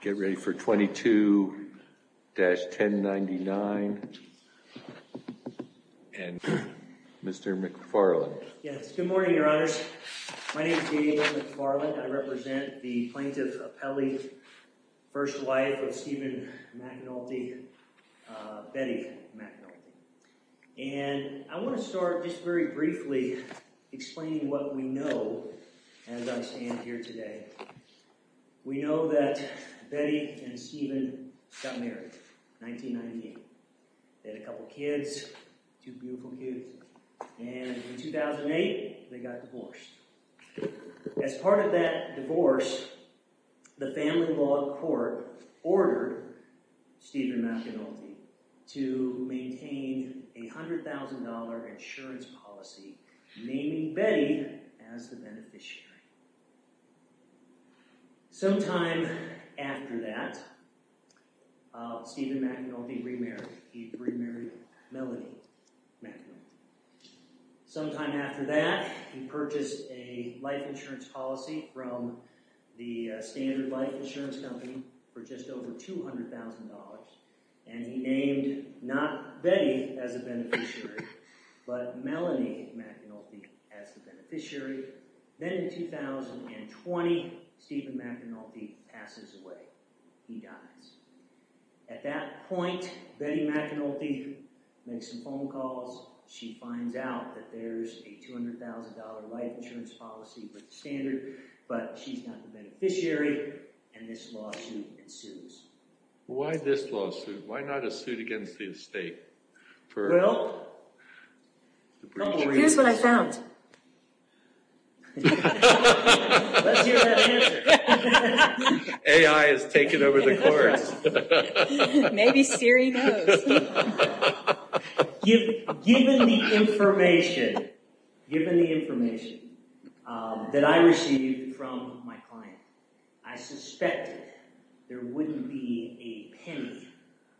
Get ready for 22-1099. And Mr. McFarland. Yes, good morning your honors. My name is David McFarland. I represent the plaintiff Apelli's first wife of Stephen McAnulty, Betty McAnulty. And I want to start just very briefly explaining what we know as I stand here today. We know that Betty and Stephen got married, 1919. They had a couple kids, two beautiful kids, and in 2008 they got divorced. As part of that divorce, the family law court ordered Stephen McAnulty to maintain a $100,000 insurance policy naming Betty as the beneficiary. Sometime after that Stephen McAnulty remarried he remarried Melanie McAnulty. Sometime after that he purchased a life insurance policy from the Standard Life Insurance Company for just over $200,000 and he named not Betty as a beneficiary but Melanie McAnulty as the beneficiary. Then in 2020 Stephen McAnulty passes away. He dies. At that point Betty McAnulty makes some phone calls. She finds out that there's a $200,000 life insurance policy with the Standard, but she's not the beneficiary and this lawsuit ensues. Why this lawsuit? Why not a suit against the estate? Well, here's what I found. Let's hear that answer. AI has taken over the course. Maybe Siri knows. Given the information, given the information that I received from my client, I suspected there wouldn't be a penny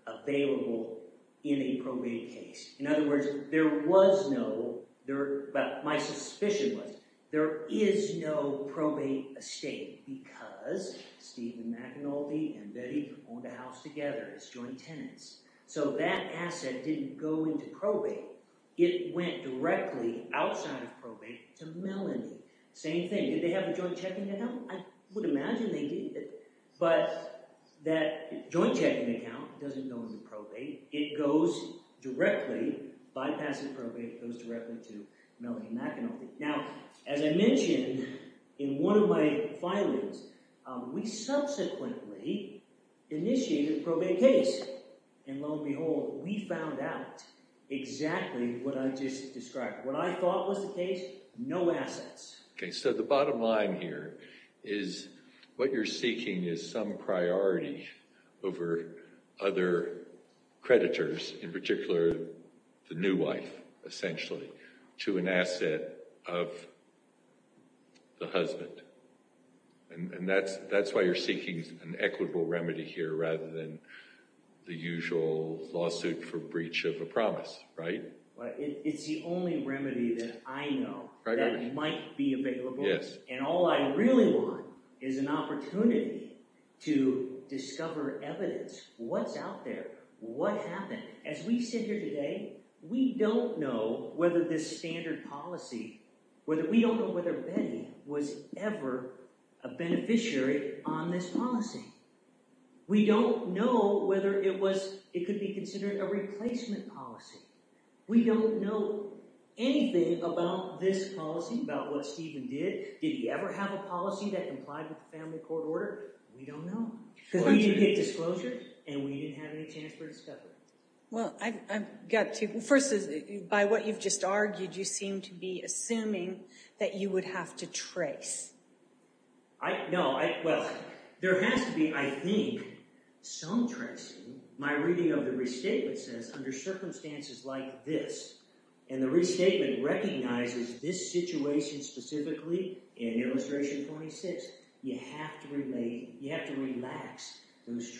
available in a probate case. In other words, there was no, there, but my suspicion was there is no probate estate because Stephen McAnulty and Betty owned a house together as joint tenants. So that asset didn't go into probate. It went directly outside of probate to Melanie. Same thing. Did they have a joint checking account? I would imagine they did, but that joint checking account doesn't go into probate. It goes directly, bypassing probate, goes directly to Melanie McAnulty. Now, as I mentioned in one of my filings, we subsequently initiated a probate case and lo and behold, we found out exactly what I thought was the case. No assets. Okay. So the bottom line here is what you're seeking is some priority over other creditors, in particular, the new wife, essentially, to an asset of the husband. And that's, that's why you're seeking an equitable remedy here rather than the usual lawsuit for breach of a promise, right? Well, it's the only remedy that I know that might be available. Yes. And all I really want is an opportunity to discover evidence. What's out there? What happened? As we sit here today, we don't know whether this standard policy, whether, we don't know whether Betty was ever a beneficiary on this policy. We don't know whether it was, it could be considered a replacement policy. We don't know anything about this policy, about what Stephen did. Did he ever have a policy that complied with the family court order? We don't know. We didn't get disclosure and we didn't have any chance for assuming that you would have to trace. I, no, I, well, there has to be, I think, some tracing. My reading of the restatement says under circumstances like this, and the restatement recognizes this situation specifically in illustration 26, you have to relate, you have to relate this situation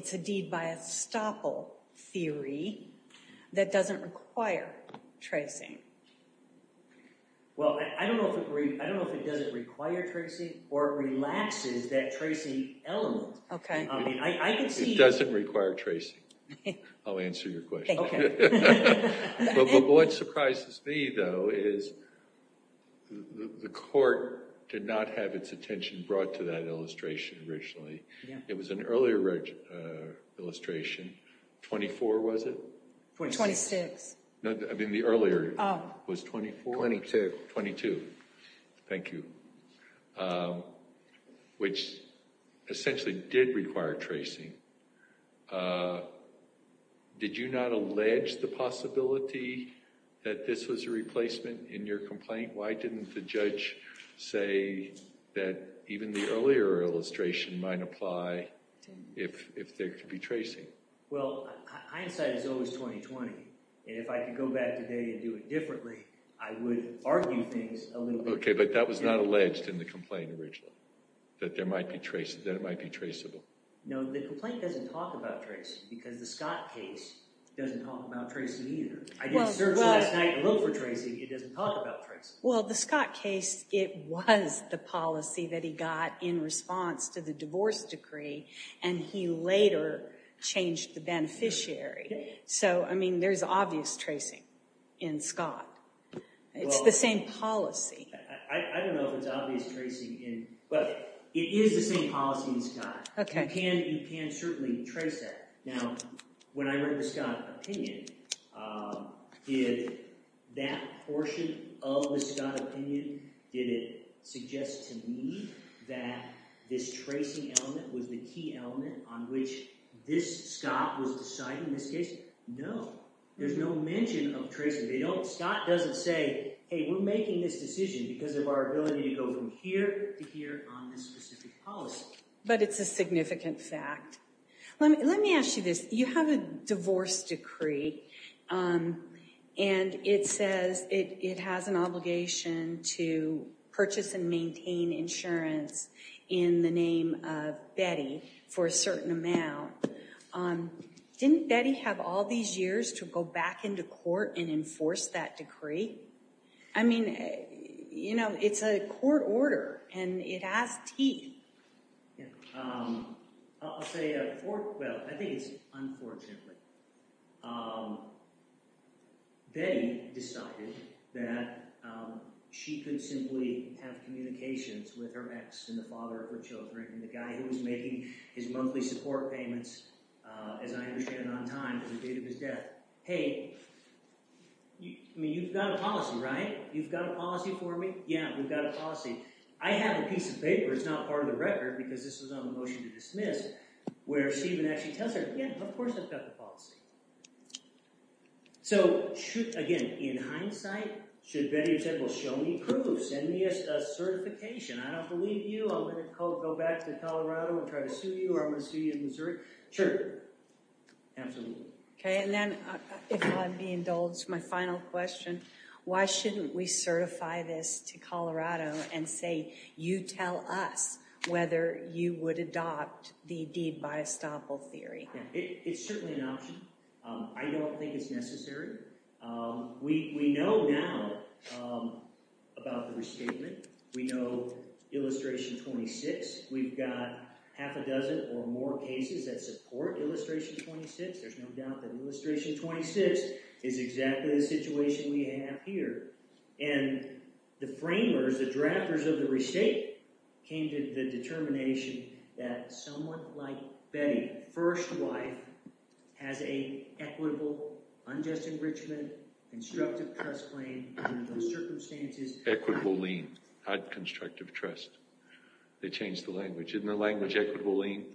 specifically by a stopple theory that doesn't require tracing. Well, I don't know if it, I don't know if it doesn't require tracing or relaxes that tracing element. Okay. I mean, I can see. It doesn't require tracing. I'll answer your question. But what surprises me, though, is the court did not have its attention brought to that illustration. 24 was it? 26. No, I mean, the earlier was 24. 22. 22. Thank you. Which essentially did require tracing. Did you not allege the possibility that this was a replacement in your complaint? Why didn't the Well, hindsight is always 20-20, and if I could go back today and do it differently, I would argue things a little bit. Okay, but that was not alleged in the complaint originally, that there might be trace, that it might be traceable. No, the complaint doesn't talk about tracing because the Scott case doesn't talk about tracing either. I didn't search last night and look for tracing. It doesn't talk about tracing. Well, the Scott case, it was the policy that he got in response to the divorce decree, and he later changed the beneficiary. So, I mean, there's obvious tracing in Scott. It's the same policy. I don't know if it's obvious tracing in, but it is the same policy in Scott. Okay. You can certainly trace that. Now, when I read the Scott opinion, did that portion of the Scott opinion, did it suggest to me that this tracing element was the key element on which this Scott was deciding this case? No, there's no mention of tracing. They don't, Scott doesn't say, hey, we're making this decision because of our ability to go from here to here on this specific policy. But it's a significant fact. Let me ask you this. You have a divorce decree, and it says it has an obligation to purchase and maintain insurance in the name of Betty for a certain amount. Didn't Betty have all these years to go back into court and enforce that decree? I mean, you know, it's a court order, and it has teeth. Yeah. I'll say I think it's unfortunate. Betty decided that she could simply have communications with her ex and the father of her children, and the guy who was making his monthly support payments, as I understand it on time, at the date of his death. Hey, I mean, you've got a policy, right? You've got a policy for me? Yeah, we've got a policy. I have a piece of paper. It's not part of the record because this was on the motion to dismiss, where Stephen actually tells her, yeah, of course, I've got the policy. So should, again, in hindsight, should Betty have said, well, show me proof, send me a certification. I don't believe you. I'm going to go back to Colorado and try to sue you, or I'm going to sue you in Missouri. Sure, absolutely. Okay, and then if I may indulge my final question, why shouldn't we certify this to Colorado and say, you tell us whether you would adopt the deed by estoppel theory? It's certainly an option. I don't think it's necessary. We know now about the restatement. We know illustration 26. We've got half a dozen or more cases that support illustration 26. There's no doubt that illustration 26 is exactly the situation we have here, and the framers, the drafters of the restate came to the determination that someone like Betty, first wife, has an equitable, unjust enrichment, constructive trust claim under those circumstances. Equitable lien, not constructive trust. They changed the language. Isn't the language equitable lien?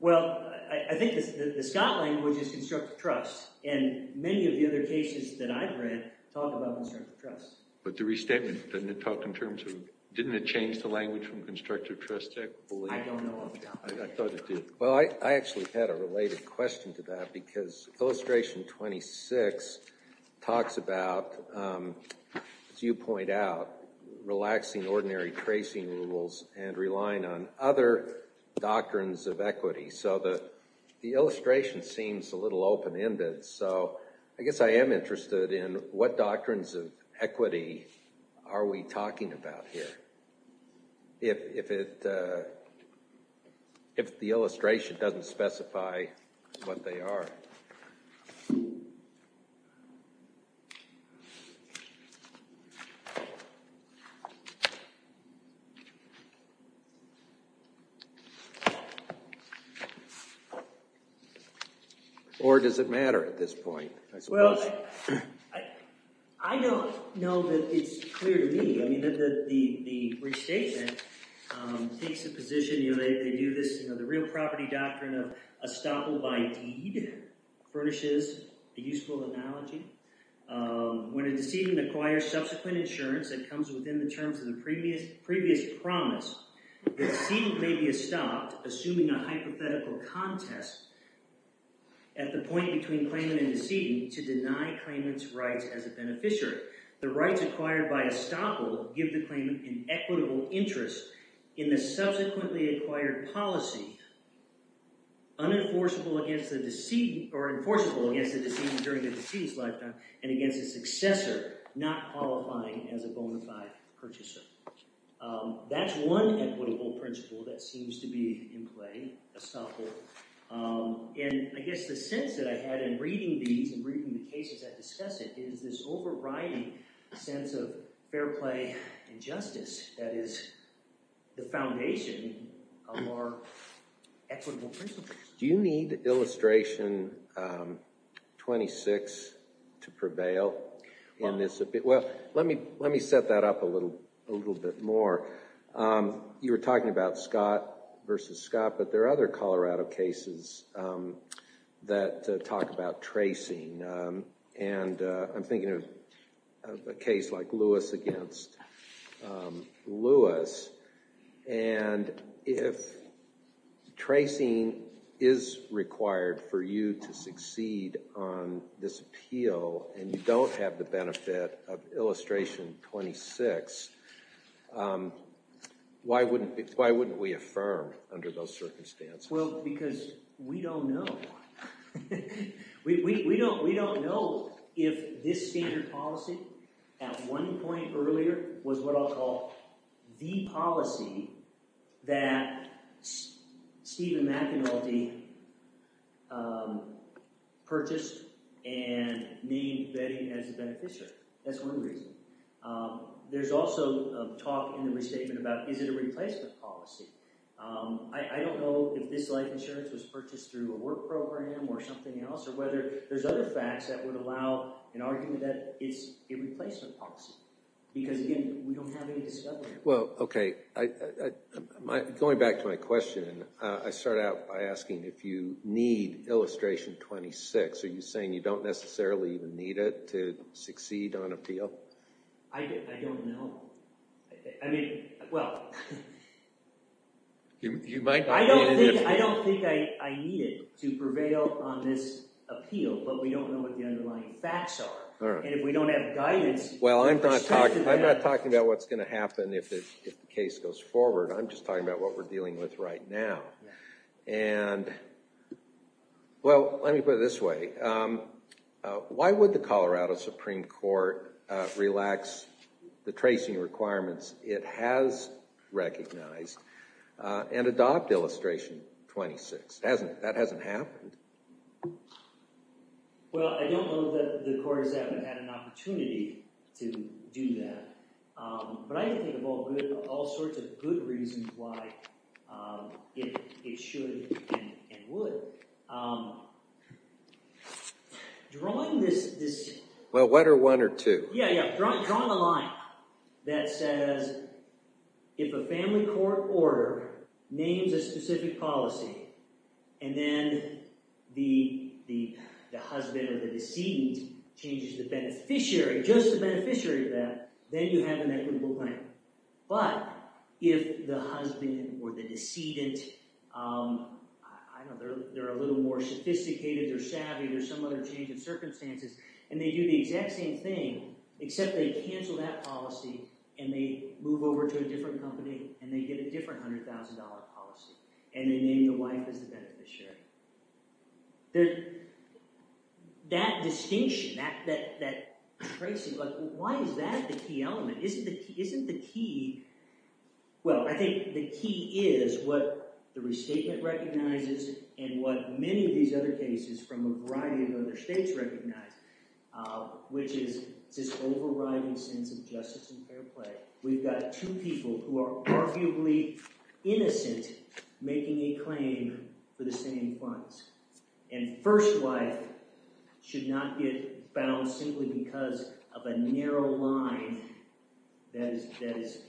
Well, I think the Scott language is constructive trust, and many of the other cases that I've read talk about constructive trust. But the restatement, didn't it talk in terms of, didn't it change the language from constructive trust to equitable lien? I don't know of that. I thought it did. Well, I actually had a related question to that because illustration 26 talks about, as you point out, relaxing ordinary tracing rules and relying on other doctrines of equity. So the illustration seems a little open-ended. So I guess I am interested in what doctrines of equity are we talking about here, if the illustration doesn't specify what they are. Or does it matter at this point? Well, I don't know that it's clear to me. I mean, the restatement takes a position, you know, they do this, you know, the real property doctrine of equitable trust, which is a very useful analogy. When a decedent acquires subsequent insurance that comes within the terms of the previous promise, the decedent may be estopped, assuming a hypothetical contest at the point between claimant and decedent to deny claimant's rights as a beneficiary. The rights acquired by estoppel give the claimant an equitable interest in the subsequently acquired policy, unenforceable against the decedent or enforceable against the decedent during the decedent's lifetime and against a successor not qualifying as a bona fide purchaser. That's one equitable principle that seems to be in play, estoppel. And I guess the sense that I had in reading these and reading the cases that discuss it is this overriding sense of fair play and justice that is the foundation of our equitable principles. Do you need illustration 26 to prevail in this? Well, let me set that up a little bit more. You were talking about Scott versus Scott, but there are other Colorado cases that talk about tracing. And I'm thinking of a case like Lewis against Lewis. And if tracing is required for you to succeed on this appeal and you don't have the benefit of illustration 26, why wouldn't we affirm under those circumstances? Well, because we don't know. We don't know if this standard policy at one point earlier was what I'll call the policy that Stephen McAnulty purchased and named betting as a beneficiary. That's one reason. There's also a talk in the restatement about is it a replacement policy? I don't know if this insurance was purchased through a work program or something else, or whether there's other facts that would allow an argument that it's a replacement policy. Because again, we don't have any discovery. Well, okay. Going back to my question, I start out by asking if you need illustration 26. Are you saying you don't necessarily even need it to succeed on appeal? I don't know. I mean, well, I don't think I need it to prevail on this appeal, but we don't know what the underlying facts are. And if we don't have guidance- Well, I'm not talking about what's going to happen if the case goes forward. I'm just talking about what we're dealing with right now. And well, let me put it this way. Why would the Colorado Supreme Court relax the tracing requirements? It has recognized and adopt illustration 26. That hasn't happened. Well, I don't know that the court has ever had an opportunity to do that, but I can think of all sorts of good reasons why it should and would. Drawing this- Well, what are one or two? Yeah, yeah. Drawing a line that says if a family court order names a specific policy, and then the husband or the decedent changes the beneficiary, just the beneficiary of that, then you have an equitable claim. But if the husband or the decedent, I don't know, they're a little more sophisticated or savvy, there's some other change of circumstances, and they do the exact same thing, except they cancel that policy, and they move over to a different company, and they get a different $100,000 policy, and they name the wife as the beneficiary. That distinction, that tracing, why is that the key element? Isn't the key- Well, I think the key is what the restatement recognizes and what many of these other cases from a variety of other states recognize, which is this overriding sense of justice and fair play. We've got two people who are arguably innocent making a claim for the same funds, and first wife should not get bound simply because of a narrow line that is-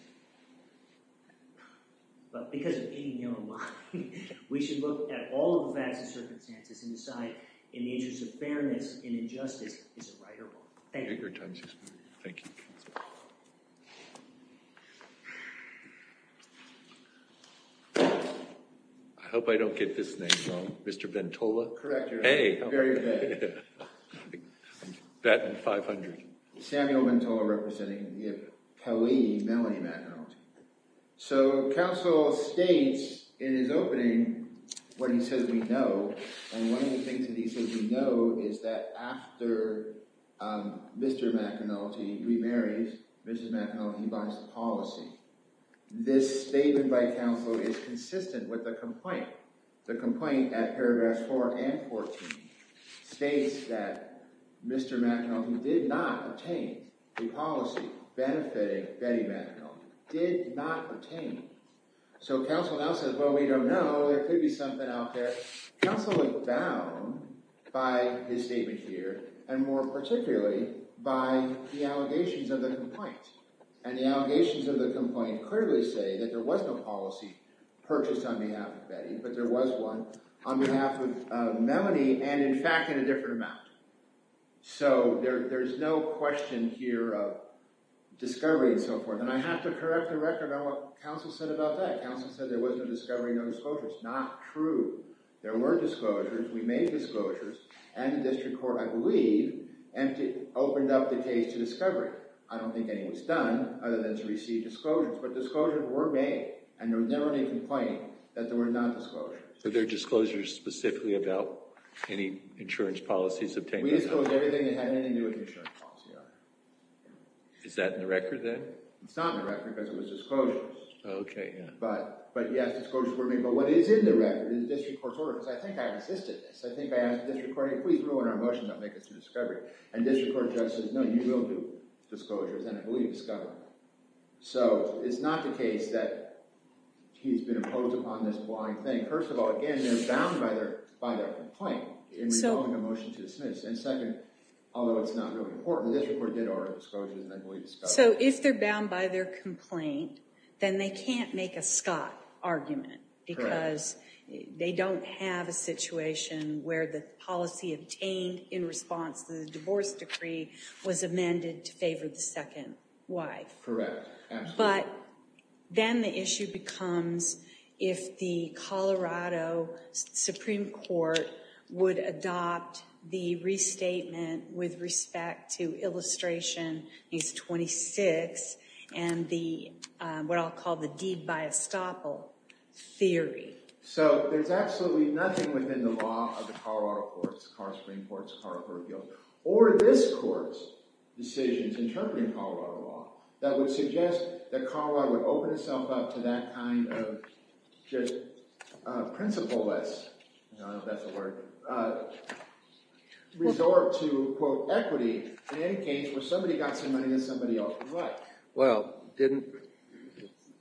But because of a narrow line, we should look at all of the facts and circumstances and decide in the interest of fairness and injustice, is it right or wrong? Thank you. I hope I don't get this name wrong. Mr. Ventola? Correct. Very good. That and 500. Samuel Ventola representing the appellee, Melanie McEnulty. So, counsel states in his opening when he says we know, and one of the things that he says we know is that after Mr. McEnulty remarries Mrs. McEnulty, he buys the policy. This statement by counsel is consistent with the complaint. The complaint at paragraphs 4 and 14 states that Mr. McEnulty did not obtain the policy benefiting Betty McEnulty. Did not obtain. So, counsel now says, well, we don't know. There could be something out there. Counsel is bound by his statement here and more particularly by the allegations of the complaint, and the allegations of the complaint clearly say that there was no policy purchased on behalf of Betty, but there was one on behalf of Melanie, and in fact in a different amount. So, there's no question here of discovery and so forth, and I have to correct the record on what counsel said about that. Counsel said there was no discovery, no disclosures. Not true. There were disclosures. We made disclosures, and the district court, I believe, opened up the case to discovery. I don't think any was done other than to receive disclosures, but disclosures were made, and there was never any complaint that there were not disclosures. So, there are disclosures specifically about any insurance policies obtained? We disclosed everything that had anything to do with insurance policy. Is that in the record then? It's not in the record because it was disclosures. Okay, yeah. But, yes, disclosures were made, but what is in the record is the district court's order, because I think I've assisted this. I think I asked the district court, hey, please rule in our motion that will make us do discovery, and district court says, no, you will do disclosures, and I believe discovery. So, it's not the case that he's been imposed upon this blind thing. First of all, again, they're bound by their complaint in resolving a motion to dismiss, and second, although it's not really important, the district court did order disclosures, and I believe discovery. So, if they're bound by their complaint, then they can't make a Scott argument because they don't have a situation where the policy obtained in response to the was amended to favor the second wife. Correct, absolutely. But, then the issue becomes if the Colorado Supreme Court would adopt the restatement with respect to illustration needs 26, and the, what I'll call the deed by estoppel theory. So, there's absolutely nothing within the law of the Colorado courts, Colorado Supreme Courts, Colorado Court of Appeals, or this court's decisions interpreting Colorado law that would suggest that Colorado would open itself up to that kind of just principle-less, I don't know if that's a word, resort to, quote, equity in any case where somebody got some money that somebody else would like. Well, didn't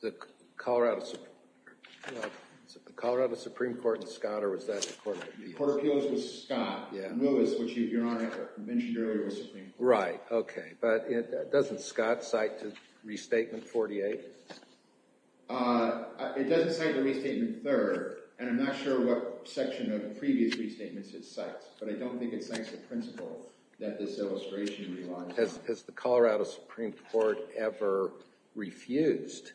the Colorado, was it the Colorado Supreme Court and Scott, or was that the Court of Appeals? The Court of Appeals was Scott, and Lewis, which your Honor mentioned earlier, was Supreme Court. Right, okay, but doesn't Scott cite to restatement 48? It doesn't cite the restatement third, and I'm not sure what section of previous restatements it cites, but I don't think it cites the principle that this illustration relies on. Has the Colorado Supreme Court ever refused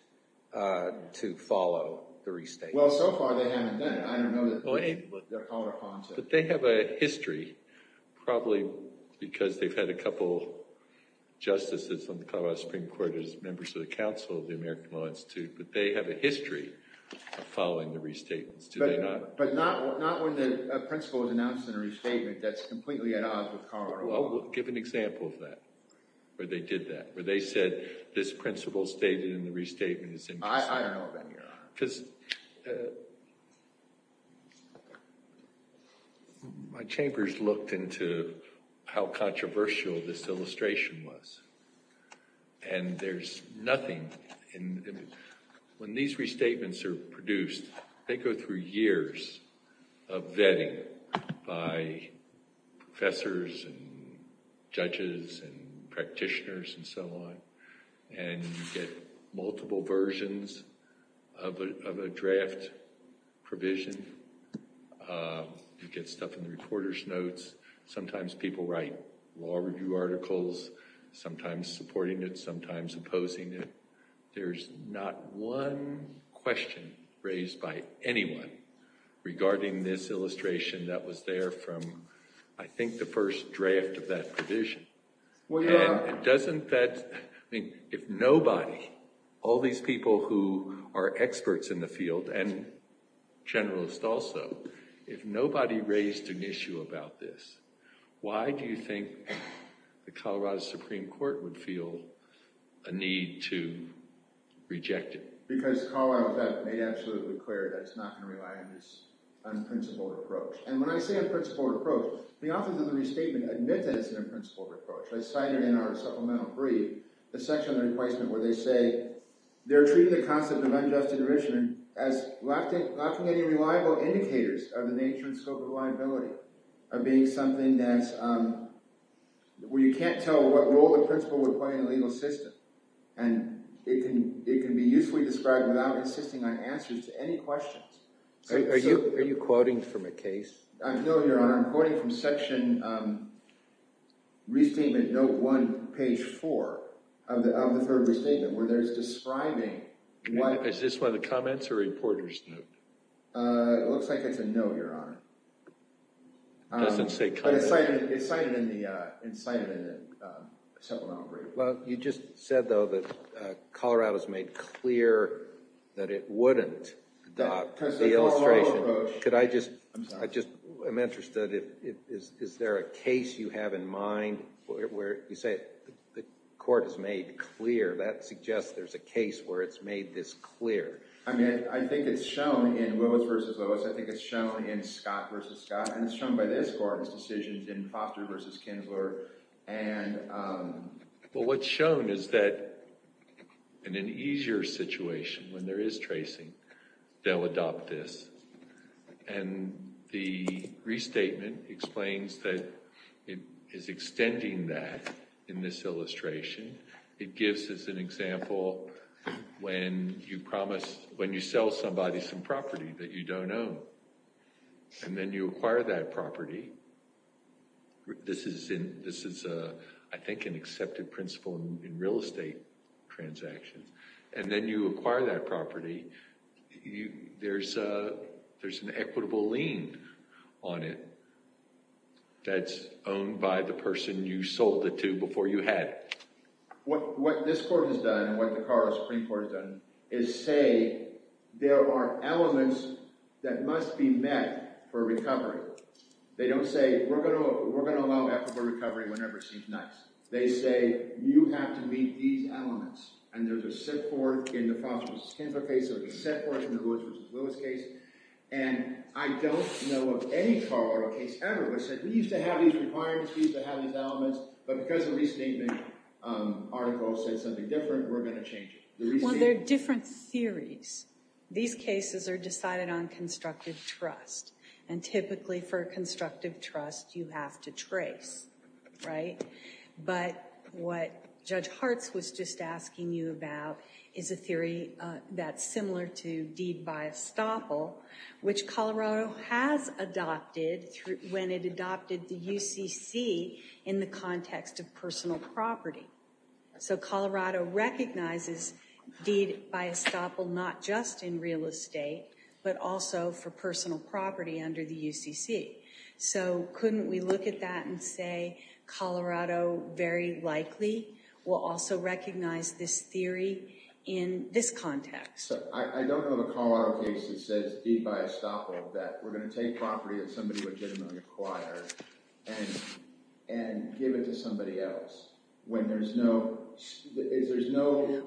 to follow the restatement? Well, so far they haven't done it. I don't know that they're called upon to. But they have a history, probably because they've had a couple justices on the Colorado Supreme Court as members of the Council of the American Law Institute, but they have a history of following the restatements, do they not? But not when the principle is announced in a restatement that's completely at odds with Colorado. Well, we'll give an example of that. Where they did that, where they said this principle stated in the restatement is interesting. I don't know, then, your Honor. Because my chambers looked into how controversial this illustration was, and there's nothing in, when these restatements are produced, they go through years of vetting by professors and judges and practitioners and so on, and you get multiple versions of a draft provision. You get stuff in the reporter's notes. Sometimes people write law review articles, sometimes supporting it, sometimes opposing it. There's not one question raised by anyone regarding this illustration that was there from, I think, the first draft of that provision. If nobody, all these people who are experts in the field, and generalists also, if nobody raised an issue about this, why do you think the Colorado Supreme Court would feel a need to reject it? Because Colorado made absolutely clear that it's not going to rely on this unprincipled approach. And when I say unprincipled approach, the authors of the restatement admit that it's an unprincipled approach. I cite it in our supplemental brief, the section of the requisement where they say they're treating the concept of unjust adjudication as lacking any reliable indicators of the nature and scope of liability, of being something that's, where you can't tell what role the principle would play in the legal system, and it can be usefully described without insisting on answers to any questions. Are you quoting from a case? No, Your Honor. I'm quoting from section restatement note one, page four of the third restatement, where there's describing... Is this one of the comments or reporters? It looks like it's a note, Your Honor. It's cited in the supplemental brief. Well, you just said, though, that Colorado's made clear that it wouldn't adopt the illustration. Could I just... I'm interested, is there a case you have in mind where you say the court has made clear? That suggests there's a case where it's made this clear. I mean, I think it's shown in Willis v. Willis. I think it's shown in Scott v. Scott, and it's shown by this court's decisions in Foster v. Kinsler. Well, what's shown is that, in an easier situation, when there is tracing, they'll adopt this, and the restatement explains that it is extending that in this illustration. It gives us an example when you promise, when you sell somebody some property that you don't own, and then you acquire that property. This is, I think, an accepted principle in real estate transactions, and then you acquire that property. There's an equitable lien on it that's owned by the person you sold it to before you had it. What this court has done, and what the Colorado Supreme Court has done, is say there are elements that must be met for recovery. They don't say, we're going to allow equitable recovery whenever it seems nice. They say, you have to meet these elements, and there's a set forth in the Foster v. Kinsler case, there's a set forth in the Willis v. Willis case, and I don't know of any Colorado case ever that said, we used to have these requirements, we used to have these elements, but because a recent statement article said something different, we're going to change it. Well, there are different theories. These cases are decided on constructive trust, and typically for constructive trust, you have to trace, right? But what Judge Hartz was just asking you about is a theory that's similar to Deed by Estoppel, which Colorado has adopted when it adopted the UCC in the context of personal property. So Colorado recognizes Deed by Estoppel not just in real estate, but also for personal property under the UCC. So couldn't we look at that and say Colorado very likely will also recognize this theory in this context? I don't know of a Colorado case that says Deed by Estoppel, that we're going to take property that somebody legitimately acquired and give it to somebody else, when there's no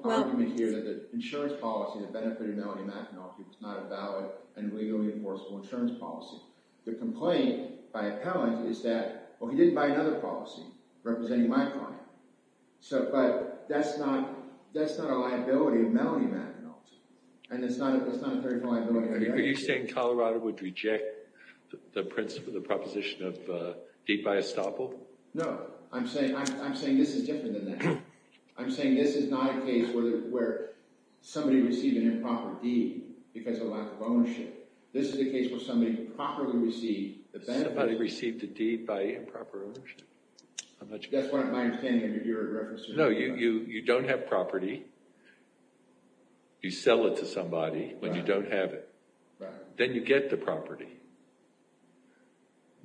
argument here that the insurance policy that benefited Melanie McEnulty was not a valid and legally enforceable insurance policy. The complaint by appellant is that, well, he didn't buy another policy representing my client. But that's not a matter. Are you saying Colorado would reject the proposition of Deed by Estoppel? No, I'm saying this is different than that. I'm saying this is not a case where somebody received an improper deed because of a lack of ownership. This is a case where somebody properly received the benefit. Somebody received a deed by improper ownership? That's my understanding of your reference. No, you don't have property. You sell it to somebody when you don't have it. Then you get the property.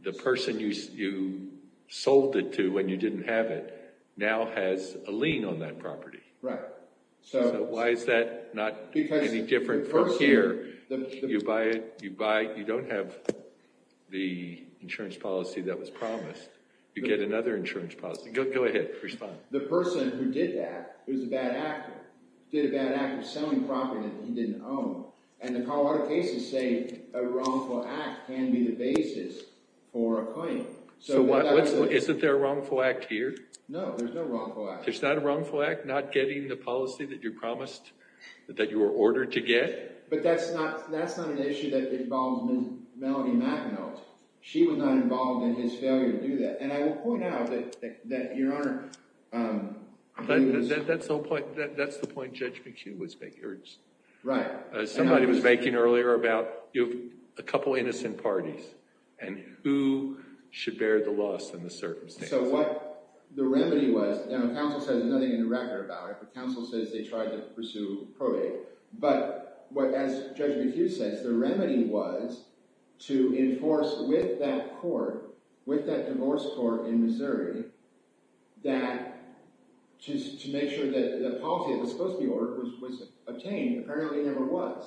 The person you sold it to when you didn't have it now has a lien on that property. So why is that not any different from here? You buy it, you don't have the insurance policy. Go ahead, respond. The person who did that, who's a bad actor, did a bad act of selling property that he didn't own. And the Colorado cases say a wrongful act can be the basis for a claim. So isn't there a wrongful act here? No, there's no wrongful act. There's not a wrongful act not getting the policy that you promised, that you were ordered to get? But that's not an issue that involves Melanie McEnulty. She was not involved in his failure to do that. And I will point out that your Honor. That's the point Judge McHugh was making. Somebody was making earlier about a couple of innocent parties and who should bear the loss in the circumstances. So what the remedy was, and the counsel says there's nothing in the record about it. The counsel says they tried to pursue probate. But as Judge McHugh says, the remedy was to enforce with that court, in Missouri, that to make sure that the policy that was supposed to be ordered was obtained. Apparently it never was.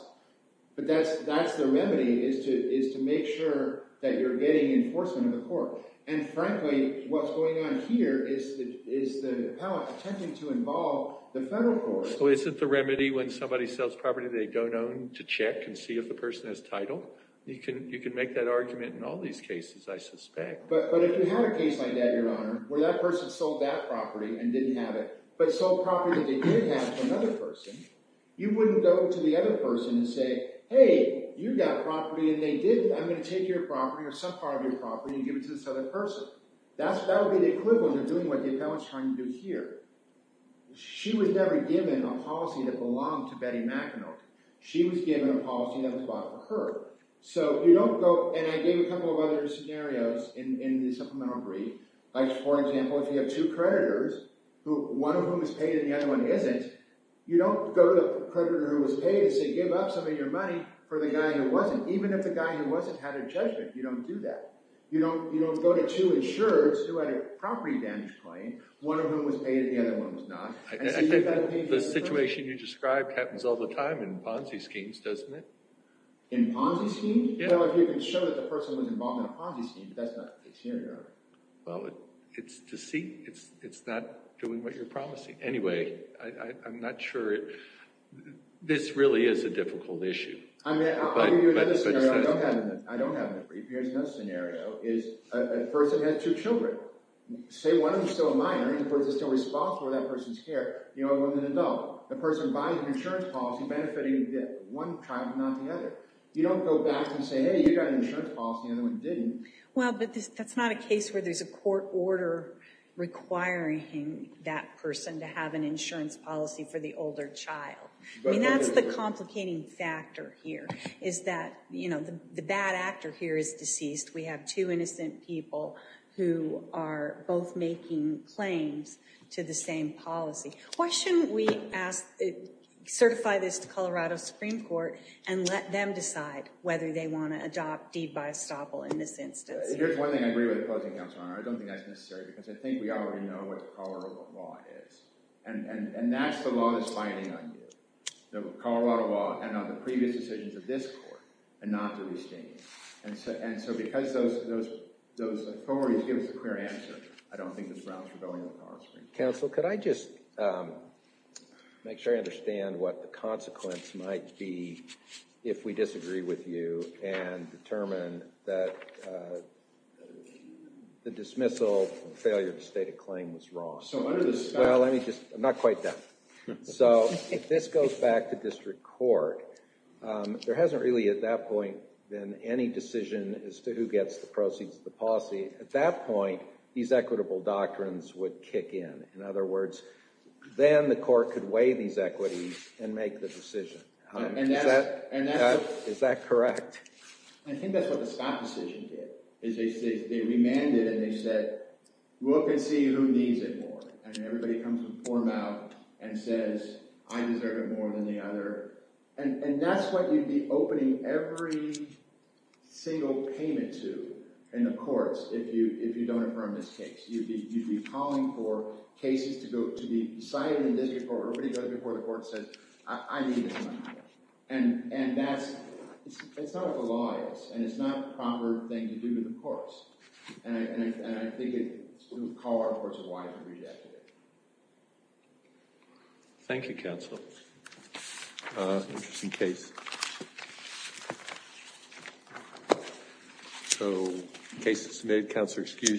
But that's the remedy, is to make sure that you're getting enforcement of the court. And frankly, what's going on here is the appellate attempting to involve the federal court. So isn't the remedy when somebody sells property they don't own to check and see if the person has title? You can make that argument in all these cases, I suspect. But if you had a case like that, your Honor, where that person sold that property and didn't have it, but sold property that they did have to another person, you wouldn't go to the other person and say, hey, you've got property and they didn't. I'm going to take your property or some part of your property and give it to this other person. That would be the equivalent of doing what the appellate's trying to do here. She was never given a policy that belonged to Betty McEnulty. She was given a policy that was about her. So you don't go, and I gave a couple other scenarios in the supplemental brief. Like, for example, if you have two creditors, one of whom is paid and the other one isn't, you don't go to the creditor who was paid and say, give up some of your money for the guy who wasn't. Even if the guy who wasn't had a judgment, you don't do that. You don't go to two insurers who had a property damage claim, one of whom was paid and the other one was not. I think the situation you described happens all the time in Ponzi schemes, doesn't it? In Ponzi schemes? Well, if you can show the person was involved in a Ponzi scheme, that's not a good scenario. Well, it's deceit. It's not doing what you're promising. Anyway, I'm not sure. This really is a difficult issue. I'll give you another scenario. I don't have it in the brief. Here's another scenario. A person has two children. Say one of them is still a minor, and the person is still responsible for that person's care. You know, when an adult, the person buys an insurance policy benefiting one child, not the other. You don't go back and say, hey, you got an insurance policy, and the other one didn't. Well, but that's not a case where there's a court order requiring that person to have an insurance policy for the older child. I mean, that's the complicating factor here, is that, you know, the bad actor here is deceased. We have two innocent people who are both making claims to the same policy. Why shouldn't we ask, certify this to Colorado Supreme Court, and let them decide whether they want to adopt deed by estoppel in this instance? Here's one thing I agree with opposing, Councilor O'Connor. I don't think that's necessary, because I think we already know what Colorado law is. And that's the law that's binding on you, the Colorado law, and on the previous decisions of this court, and not to restrain you. And so because those authorities give us a clear answer, I don't think this route's for going with Colorado Council, could I just make sure I understand what the consequence might be if we disagree with you and determine that the dismissal and failure to state a claim was wrong? So under the statute... Well, let me just... I'm not quite done. So if this goes back to district court, there hasn't really, at that point, been any decision as to who gets the proceeds of the policy. At that point, these equitable doctrines would kick in. In other words, then the court could weigh these equities and make the decision. Is that correct? I think that's what the Scott decision did, is they remanded and they said, look and see who needs it more. And everybody comes to form out and says, I deserve it more than the other. And that's what you'd be opening every single payment to in the courts if you don't affirm this case. You'd be calling for cases to be decided in district court. Everybody goes before the court and says, I need this money. And that's... It's not what the law is, and it's not the proper thing to do in the courts. And I think it would call our courts as wise to read that today. Thank you, counsel. That's an interesting case. So, case is submitted. Counselor, excuse me.